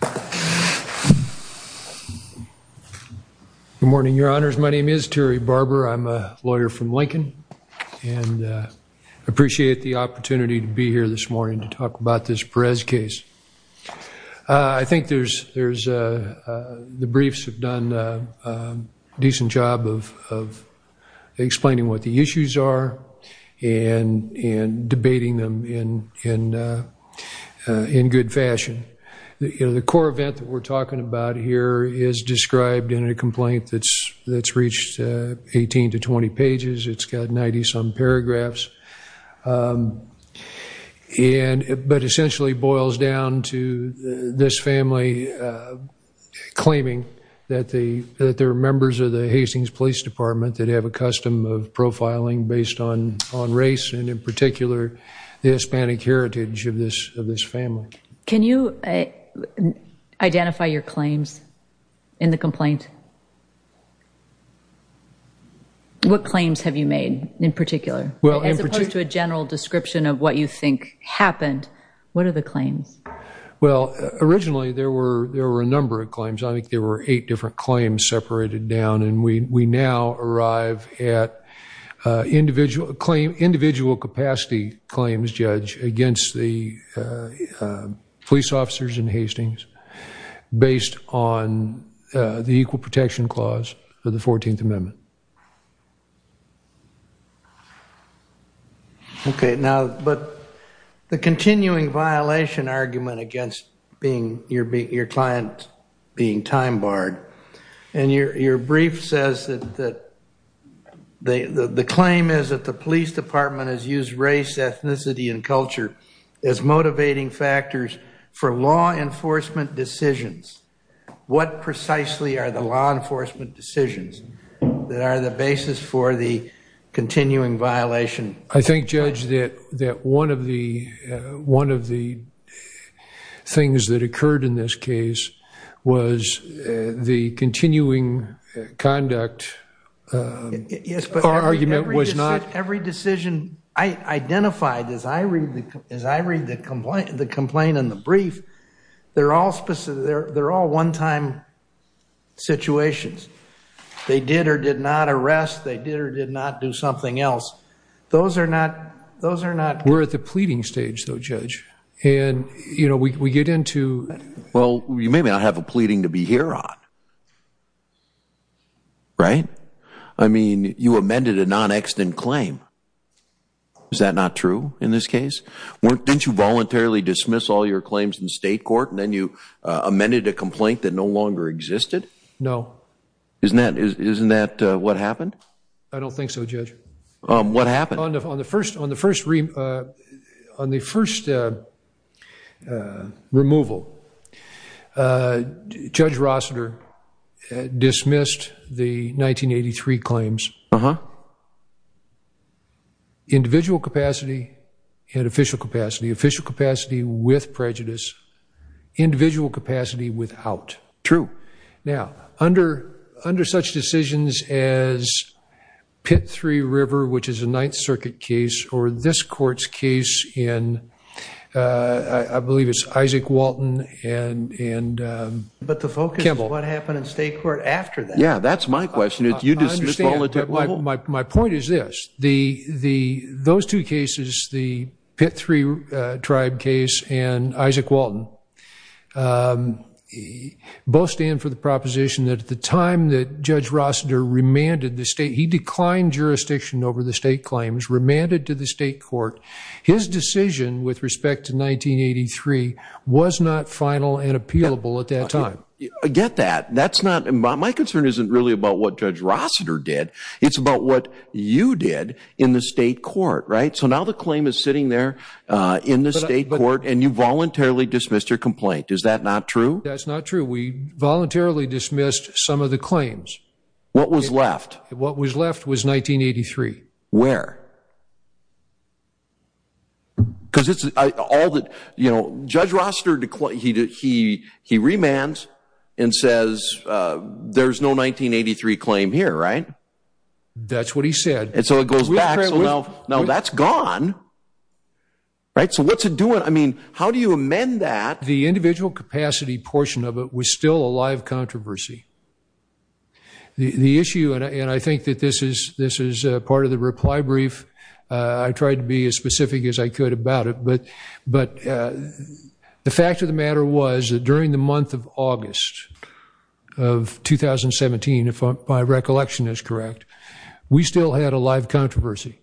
Good morning, your honors. My name is Terry Barber. I'm a lawyer from Lincoln and I appreciate the opportunity to be here this morning to talk about this Perez case. I think the briefs have done a decent job of explaining what the issues are and debating them in good fashion. The core event that we're talking about here is described in a complaint that's reached 18 to 20 pages. It's got 90-some paragraphs, but essentially boils down to this family claiming that there are members of the Hastings Police Department that have a custom of profiling based on race, in particular, the Hispanic heritage of this family. Can you identify your claims in the complaint? What claims have you made in particular, as opposed to a general description of what you think happened? What are the claims? Well, originally there were a number of claims. I think there were eight different claims separated down, and we now arrive at individual capacity claims, Judge, against the police officers in Hastings based on the Equal Protection Clause of the 14th Amendment. Okay, now, but the continuing violation argument against your client being time-barred, and your brief says that the claim is that the police department has used race, ethnicity, and culture as motivating factors for law enforcement decisions. What precisely are the law enforcement decisions that are the basis for the continuing violation? I think, Judge, that one of the things that occurred in this case was the continuing conduct argument was not... As I read the complaint in the brief, they're all one-time situations. They did or did not arrest. They did or did not do something else. Those are not... We're at the pleading stage, though, Judge, and, you know, we get into... Well, you may not have a pleading to be here on, right? I mean, you amended a non-extant claim. Is that not true in this case? Didn't you voluntarily dismiss all your claims in state court, and then you amended a complaint that no longer existed? No. Isn't that what happened? I don't think so, Judge. What happened? On the first removal, Judge Rossiter dismissed the 1983 claims. Individual capacity and official capacity. Official capacity with prejudice. Individual capacity without. True. Now, under such decisions as Pitt-Three-River, which is a Ninth Circuit case, or this court's case in... I believe it's Isaac Walton and... But the focus is what happened in state court after that. Yeah, that's my question. Did you dismiss all the... My point is this. Those two cases, the Pitt-Three-Tribe case and Isaac Walton, both stand for the proposition that at the time that Judge Rossiter remanded the state... He declined jurisdiction over the state claims, remanded to the state court. His decision with respect to 1983 was not final and appealable at that time. I get that. That's not... My concern isn't really about what Judge Rossiter did. It's about what you did in the state court, right? So now the claim is sitting there in the state court, and you voluntarily dismissed your complaint. Is that not true? That's not true. We voluntarily dismissed some of the claims. What was left? What was left was 1983. Where? Because it's all that... You know, Judge Rossiter, he remands and says, there's no 1983 claim here, right? That's what he said. And so it goes back. So now that's gone, right? So what's it doing? I mean, how do you amend that? The individual capacity portion of it was still a live controversy. The issue, and I think that this is part of the reply brief, I tried to be as specific as I could about it. But the fact of the matter was that during the month of August of 2017, if my recollection is correct, we still had a live controversy.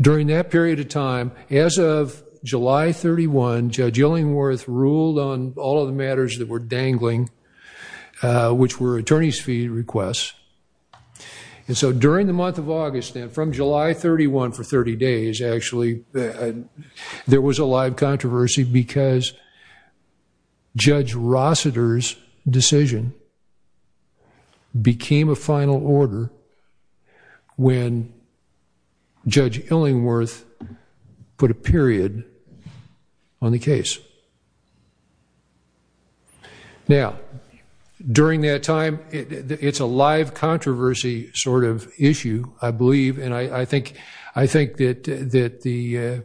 During that period of time, as of July 31, Judge Illingworth ruled on all of the matters that were dangling, which were attorney's fee requests. And so during the month of August then, from July 31 for 30 days, actually, there was a live controversy because Judge Rossiter's decision became a final order. When Judge Illingworth put a period on the case. Now, during that time, it's a live controversy sort of issue, I believe. And I think that the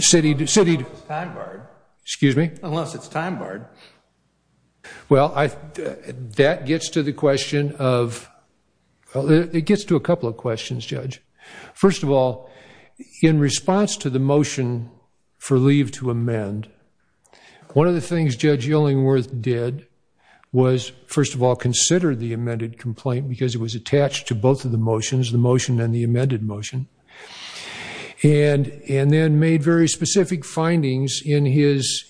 city... Unless it's time barred. Excuse me? Unless it's time barred. Well, that gets to the question of... It gets to a couple of questions, Judge. First of all, in response to the motion for leave to amend, one of the things Judge Illingworth did was, first of all, consider the amended complaint because it was attached to both of the motions, the motion and the amended motion. And then made very specific findings in his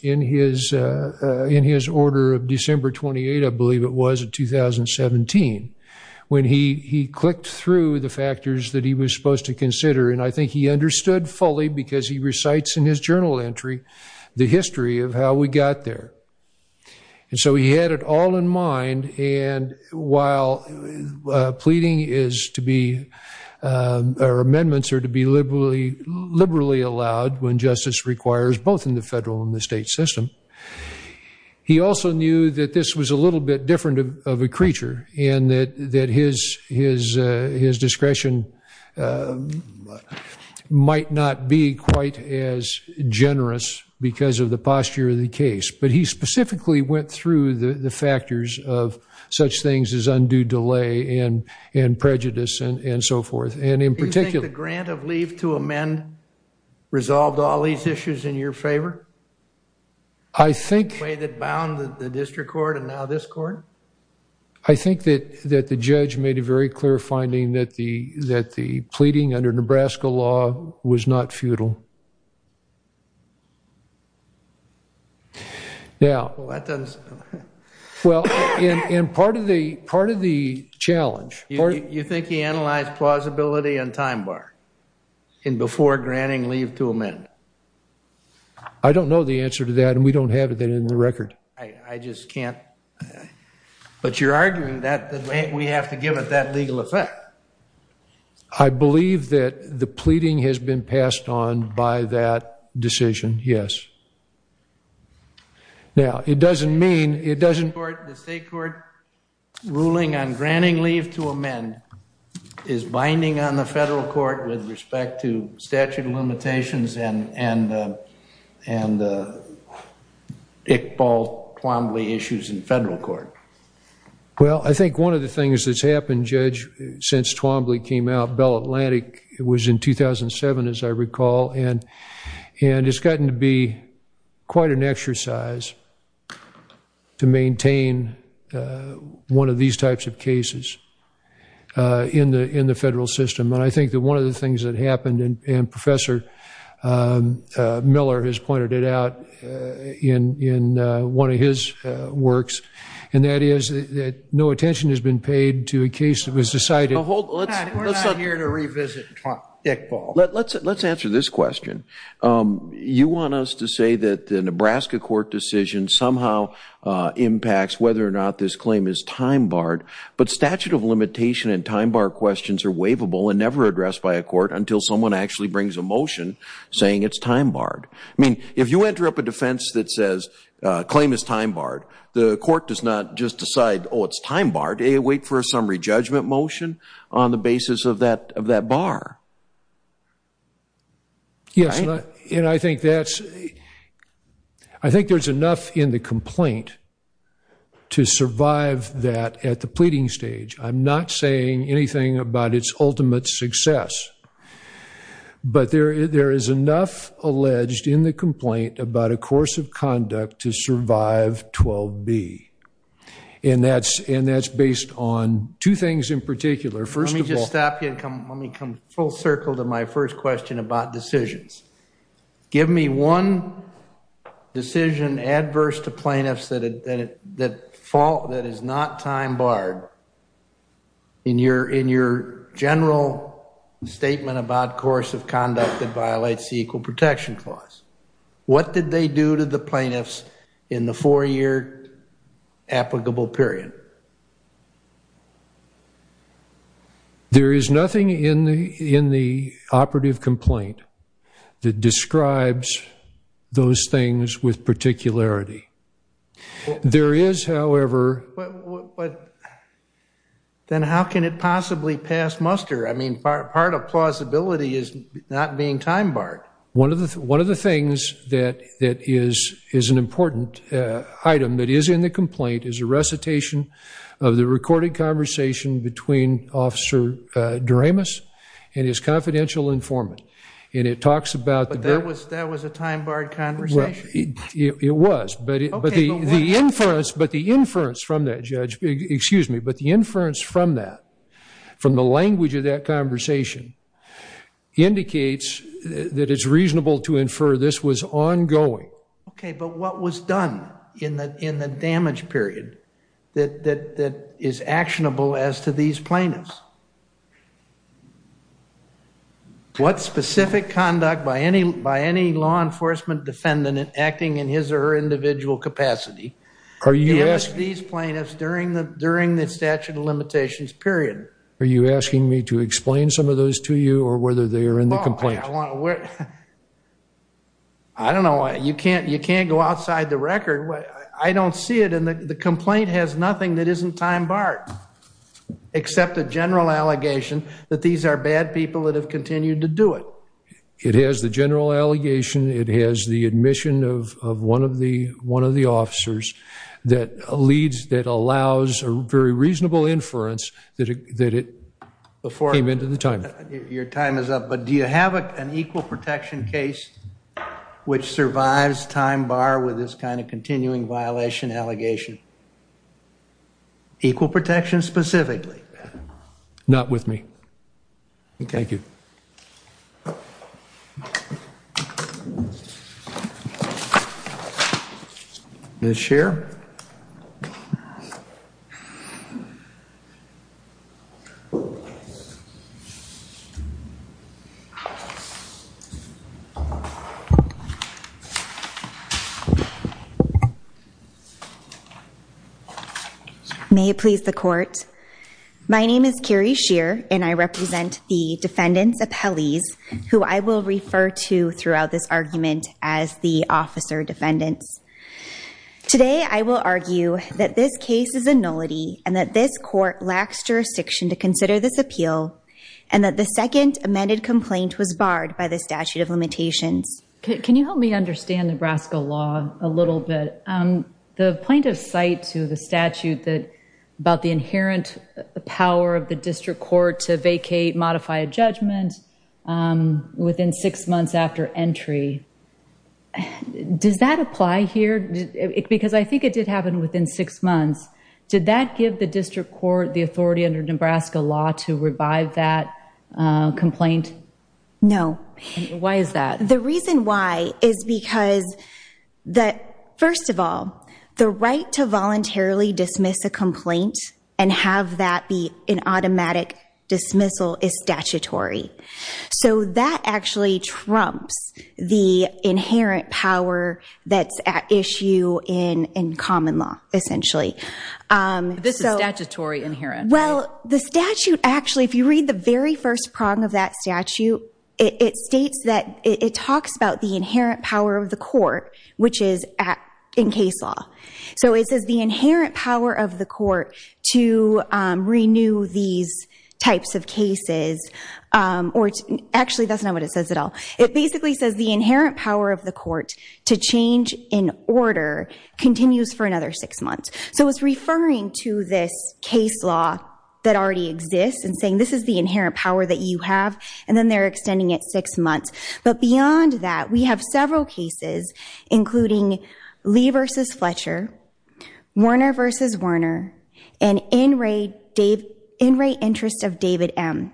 order of December 28, I believe it was, of 2017. When he clicked through the factors that he was supposed to consider, and I think he understood fully because he recites in his journal entry the history of how we got there. And so he had it all in mind. And while pleading is to be... Our amendments are to be liberally allowed when justice requires both in the federal and the state system. He also knew that this was a little bit different of a creature and that his discretion might not be quite as generous because of the posture of the case. But he specifically went through the factors of such things as undue delay and prejudice and so forth. And in particular... Do you think the grant of leave to amend resolved all these issues in your favor? I think... The way that bound the district court and now this court? I think that the judge made a very clear finding that the pleading under Nebraska law was not futile. Now... Well, in part of the challenge... You think he analyzed plausibility and time bar in before granting leave to amend? I don't know the answer to that and we don't have it in the record. I just can't... But you're arguing that we have to give it that legal effect. I believe that the pleading has been passed on by that decision, yes. Now, it doesn't mean... The state court ruling on granting leave to amend is binding on the federal court with respect to statute of limitations and Iqbal Twombly issues in federal court. Well, I think one of the things that's happened, Judge, since Twombly came out... It was in 2007, as I recall, and it's gotten to be quite an exercise to maintain one of these types of cases in the federal system. And I think that one of the things that happened, and Professor Miller has pointed it out in one of his works, and that is that no attention has been paid to a case that was decided... We're not here to revisit Iqbal. Let's answer this question. You want us to say that the Nebraska court decision somehow impacts whether or not this claim is time barred, but statute of limitation and time bar questions are waivable and never addressed by a court until someone actually brings a motion saying it's time barred. I mean, if you enter up a defense that says claim is time barred, the court does not just decide, oh, it's time barred. They wait for a summary judgment motion on the basis of that bar. Yes, and I think that's... I think there's enough in the complaint to survive that at the pleading stage. I'm not saying anything about its ultimate success. But there is enough alleged in the complaint about a course of conduct to survive 12B. And that's based on two things in particular. First of all... Let me just stop you and come full circle to my first question about decisions. Give me one decision adverse to plaintiffs that is not time barred in your general statement about course of conduct that violates the Equal Protection Clause. What did they do to the plaintiffs in the four-year applicable period? There is nothing in the operative complaint that describes those things with particularity. There is, however... But then how can it possibly pass muster? I mean, part of plausibility is not being time barred. One of the things that is an important item that is in the complaint is a recitation of the recorded conversation between Officer Doremus and his confidential informant. And it talks about... But that was a time barred conversation? It was. But the inference from that, Judge... Excuse me. Indicates that it's reasonable to infer this was ongoing. Okay, but what was done in the damage period that is actionable as to these plaintiffs? What specific conduct by any law enforcement defendant acting in his or her individual capacity... Are you asking... ...damaged these plaintiffs during the statute of limitations period? Are you asking me to explain some of those to you or whether they are in the complaint? I don't know. You can't go outside the record. I don't see it. And the complaint has nothing that isn't time barred. Except a general allegation that these are bad people that have continued to do it. It has the general allegation. It has the admission of one of the officers that allows a very reasonable inference that it came into the time. Your time is up. But do you have an equal protection case which survives time bar with this kind of continuing violation allegation? Equal protection specifically? Not with me. Thank you. Ms. Scheer. May it please the court. My name is Carrie Scheer and I represent the defendant's appellees who I will refer to throughout this argument as the officer defendants. Today I will argue that this case is a nullity and that this court lacks jurisdiction to consider this appeal... ...and that the second amended complaint was barred by the statute of limitations. Can you help me understand Nebraska law a little bit? The plaintiff's cite to the statute about the inherent power of the district court to vacate, modify a judgment within six months after entry. Does that apply here? Because I think it did happen within six months. Did that give the district court the authority under Nebraska law to revive that complaint? No. Why is that? The reason why is because, first of all, the right to voluntarily dismiss a complaint and have that be an automatic dismissal is statutory. So that actually trumps the inherent power that's at issue in common law, essentially. This is statutory inherent, right? Well, the statute actually, if you read the very first prong of that statute, it states that it talks about the inherent power of the court, which is in case law. So it says the inherent power of the court to renew these types of cases, or actually that's not what it says at all. It basically says the inherent power of the court to change in order continues for another six months. So it's referring to this case law that already exists and saying this is the inherent power that you have, and then they're extending it six months. But beyond that, we have several cases, including Lee v. Fletcher, Warner v. Warner, and in-rate interest of David M.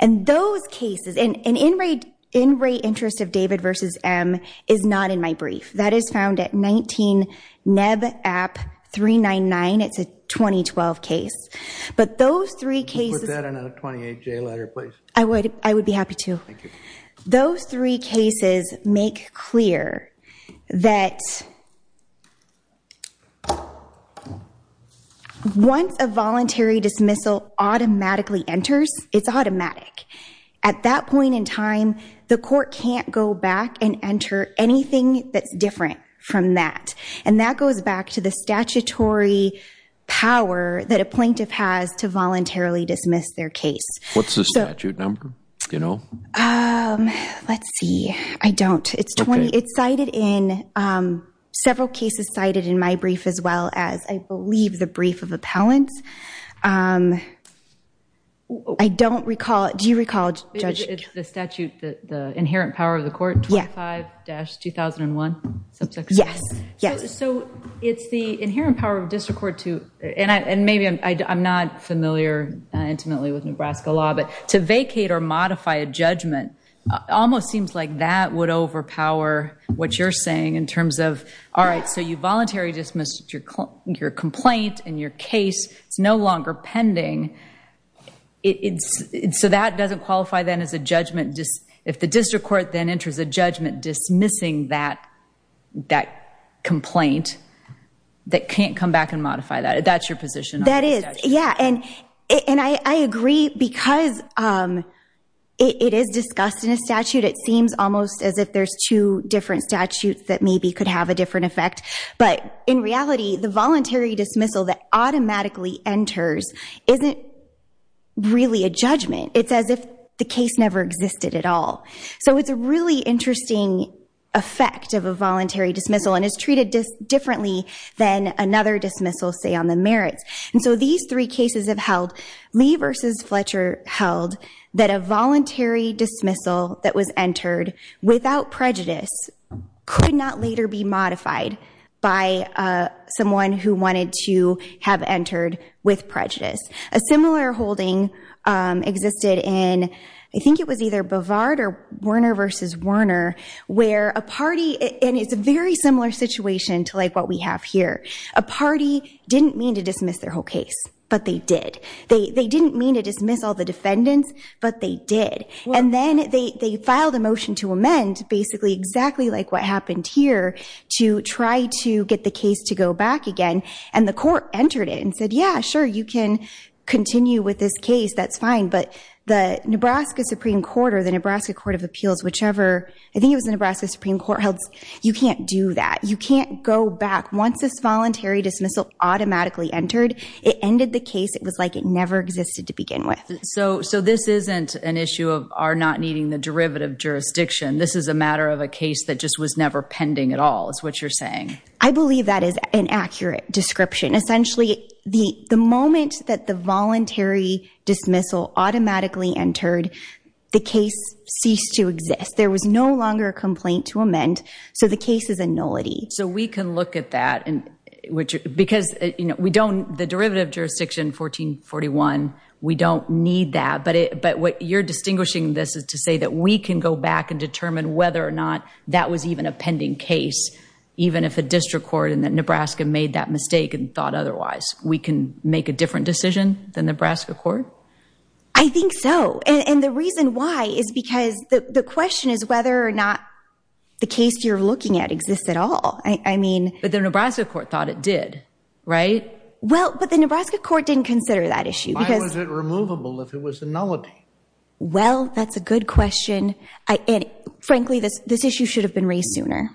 And those cases, and in-rate interest of David v. M. is not in my brief. That is found at 19 NEB AP 399. It's a 2012 case. But those three cases... Can you put that in a 28-J letter, please? I would be happy to. Thank you. Those three cases make clear that once a voluntary dismissal automatically enters, it's automatic. At that point in time, the court can't go back and enter anything that's different from that. And that goes back to the statutory power that a plaintiff has to voluntarily dismiss their case. What's the statute number? Let's see. I don't. It's cited in several cases cited in my brief as well as, I believe, the brief of appellants. I don't recall. Do you recall, Judge? It's the statute, the inherent power of the court, 25-2001? Yes. So it's the inherent power of district court to, and maybe I'm not familiar intimately with Nebraska law, but to vacate or modify a judgment almost seems like that would overpower what you're saying in terms of, all right, so you voluntarily dismissed your complaint and your case. It's no longer pending. So that doesn't qualify then as a judgment? If the district court then enters a judgment dismissing that complaint, that can't come back and modify that? That's your position on the statute? That is. Yeah. And I agree because it is discussed in a statute. It seems almost as if there's two different statutes that maybe could have a different effect. But in reality, the voluntary dismissal that automatically enters isn't really a judgment. It's as if the case never existed at all. So it's a really interesting effect of a voluntary dismissal and is treated differently than another dismissal, say, on the merits. And so these three cases have held. Lee versus Fletcher held that a voluntary dismissal that was entered without prejudice could not later be modified by someone who wanted to have entered with prejudice. A similar holding existed in, I think it was either Bovard or Werner versus Werner, where a party, and it's a very similar situation to, like, what we have here. A party didn't mean to dismiss their whole case, but they did. They didn't mean to dismiss all the defendants, but they did. And then they filed a motion to amend, basically exactly like what happened here, to try to get the case to go back again. And the court entered it and said, yeah, sure, you can continue with this case. That's fine. But the Nebraska Supreme Court or the Nebraska Court of Appeals, whichever, I think it was the Nebraska Supreme Court, held you can't do that. You can't go back. Once this voluntary dismissal automatically entered, it ended the case. It was like it never existed to begin with. So this isn't an issue of our not needing the derivative jurisdiction. This is a matter of a case that just was never pending at all is what you're saying. I believe that is an accurate description. Essentially, the moment that the voluntary dismissal automatically entered, the case ceased to exist. There was no longer a complaint to amend, so the case is a nullity. So we can look at that. Because the derivative jurisdiction, 1441, we don't need that. But what you're distinguishing this is to say that we can go back and determine whether or not that was even a pending case, even if a district court in Nebraska made that mistake and thought otherwise. We can make a different decision than Nebraska court? I think so. And the reason why is because the question is whether or not the case you're looking at exists at all. But the Nebraska court thought it did, right? Well, but the Nebraska court didn't consider that issue. Why was it removable if it was a nullity? Well, that's a good question. And frankly, this issue should have been raised sooner.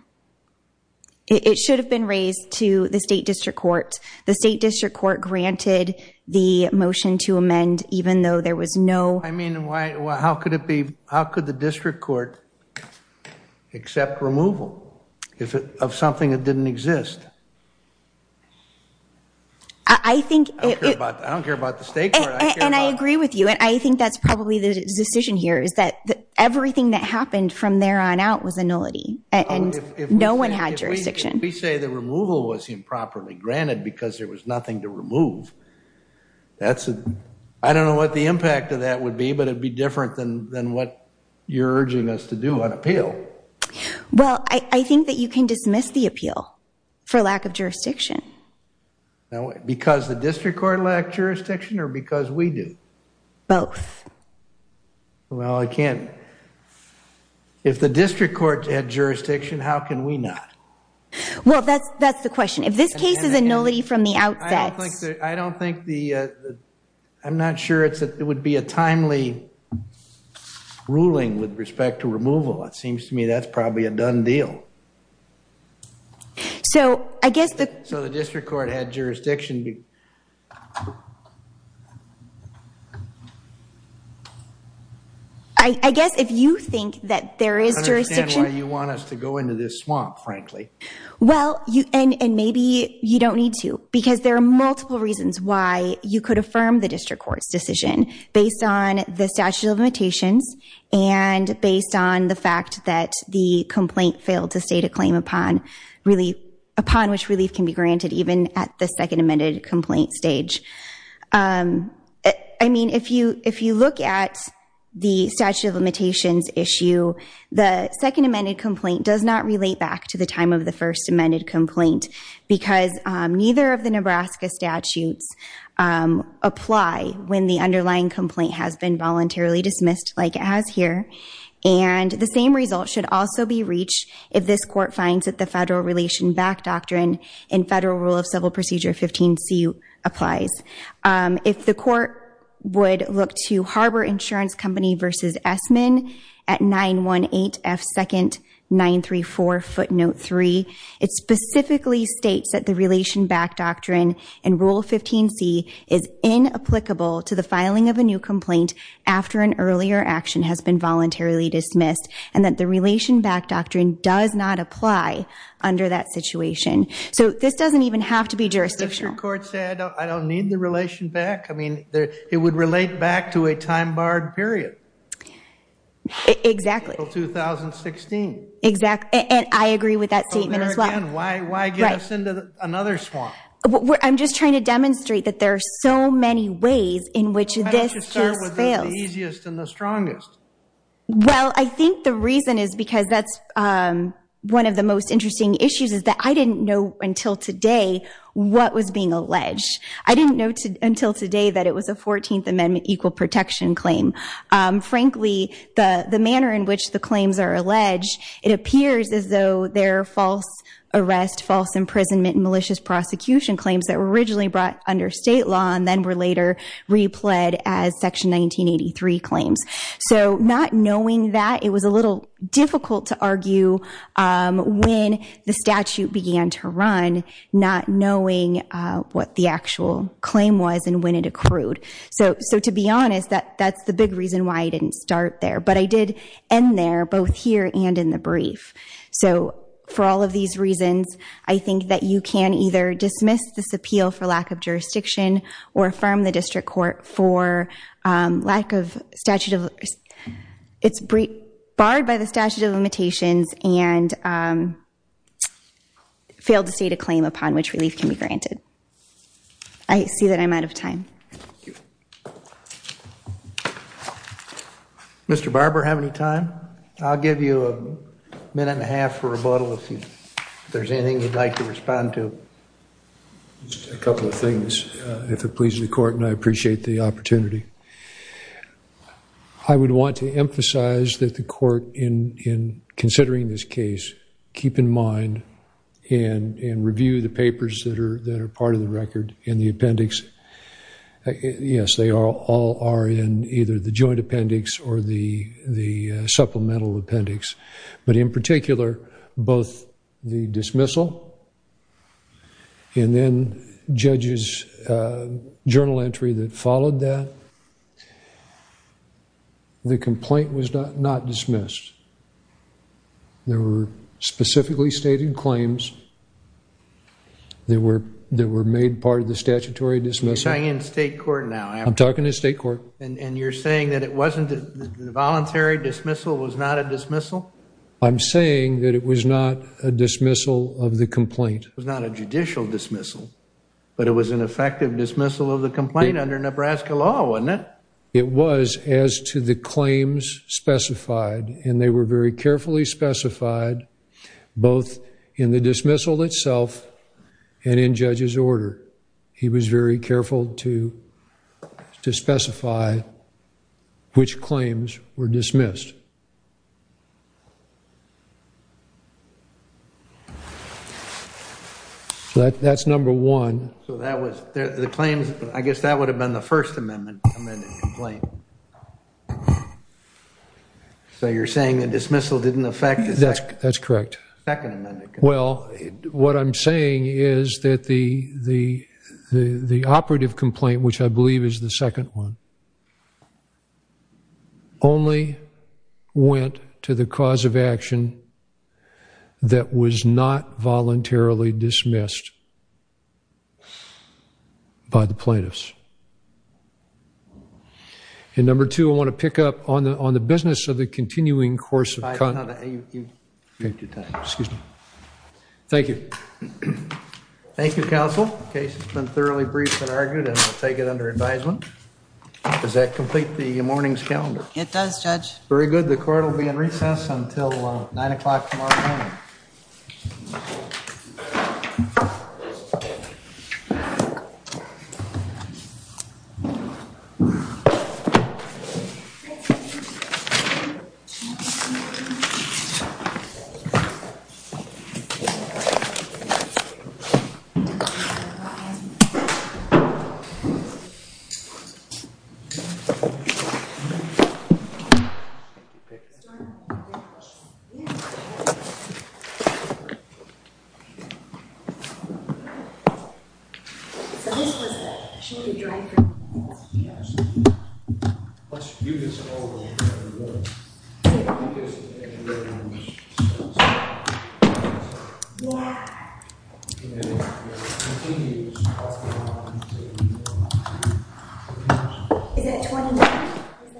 It should have been raised to the state district court. The state district court granted the motion to amend even though there was no I mean, how could the district court accept removal of something that didn't exist? I don't care about the state court. And I agree with you. And I think that's probably the decision here is that everything that happened from there on out was a nullity. And no one had jurisdiction. If we say the removal was improperly granted because there was nothing to remove, I don't know what the impact of that would be, but it would be different than what you're urging us to do on appeal. Well, I think that you can dismiss the appeal for lack of jurisdiction. Because the district court lacked jurisdiction or because we do? Both. Well, I can't. If the district court had jurisdiction, how can we not? Well, that's the question. If this case is a nullity from the outset. I'm not sure it would be a timely ruling with respect to removal. It seems to me that's probably a done deal. So the district court had jurisdiction. I guess if you think that there is jurisdiction. I don't understand why you want us to go into this swamp, frankly. Well, and maybe you don't need to. Because there are multiple reasons why you could affirm the district court's decision. Based on the statute of limitations. And based on the fact that the complaint failed to state a claim upon relief. Upon which relief can be granted even at the second amended complaint stage. I mean, if you look at the statute of limitations issue. The second amended complaint does not relate back to the time of the first amended complaint. Because neither of the Nebraska statutes apply when the underlying complaint has been voluntarily dismissed. Like it has here. And the same result should also be reached if this court finds that the federal relation back doctrine. In federal rule of civil procedure 15c applies. If the court would look to harbor insurance company versus Esmond. At 918F second 934 footnote 3. It specifically states that the relation back doctrine. In rule 15c is in applicable to the filing of a new complaint. After an earlier action has been voluntarily dismissed. And that the relation back doctrine does not apply under that situation. So this doesn't even have to be jurisdictional. I don't need the relation back. I mean, it would relate back to a time barred period. Exactly. Until 2016. Exactly. And I agree with that statement as well. Why get us into another swamp? I'm just trying to demonstrate that there are so many ways in which this just fails. Why don't you start with the easiest and the strongest? Well, I think the reason is because that's one of the most interesting issues. Is that I didn't know until today what was being alleged. I didn't know until today that it was a 14th amendment equal protection claim. Frankly, the manner in which the claims are alleged. It appears as though they're false arrest. False imprisonment. Malicious prosecution claims that were originally brought under state law. And then were later replayed as section 1983 claims. So not knowing that, it was a little difficult to argue when the statute began to run. Not knowing what the actual claim was and when it accrued. So to be honest, that's the big reason why I didn't start there. But I did end there. Both here and in the brief. So for all of these reasons, I think that you can either dismiss this appeal for lack of jurisdiction. Or affirm the district court for lack of statute of limitations. It's barred by the statute of limitations. And failed to state a claim upon which relief can be granted. I see that I'm out of time. Mr. Barber, have any time? I'll give you a minute and a half for rebuttal if there's anything you'd like to respond to. Just a couple of things, if it pleases the court. And I appreciate the opportunity. I would want to emphasize that the court, in considering this case, keep in mind and review the papers that are part of the record in the appendix. Yes, they all are in either the joint appendix or the supplemental appendix. But in particular, both the dismissal and then judges' journal entry that followed that. The complaint was not dismissed. There were specifically stated claims. They were made part of the statutory dismissal. You're talking in state court now. I'm talking in state court. And you're saying that the voluntary dismissal was not a dismissal? I'm saying that it was not a dismissal of the complaint. It was not a judicial dismissal. But it was an effective dismissal of the complaint under Nebraska law, wasn't it? It was as to the claims specified. And they were very carefully specified both in the dismissal itself and in judges' order. He was very careful to specify which claims were dismissed. That's number one. I guess that would have been the First Amendment complaint. So you're saying the dismissal didn't affect the Second Amendment complaint? That's correct. Well, what I'm saying is that the operative complaint, which I believe is the second one, only went to the cause of action that was not voluntarily dismissed by the plaintiffs. And number two, I want to pick up on the business of the continuing course of conduct. Excuse me. Thank you. Thank you, counsel. The case has been thoroughly briefed and argued, and we'll take it under advisement. Does that complete the morning's calendar? It does, Judge. Very good. The court will be in recess until 9 o'clock tomorrow morning. Thank you. Thank you, counsel. Your Honor, I have a question. Yeah, go ahead. So this was a short-term driver of the house? Yes. Let's view this over in the rules. Okay. In the rules. Yeah. Okay. Thank you. Is that 29?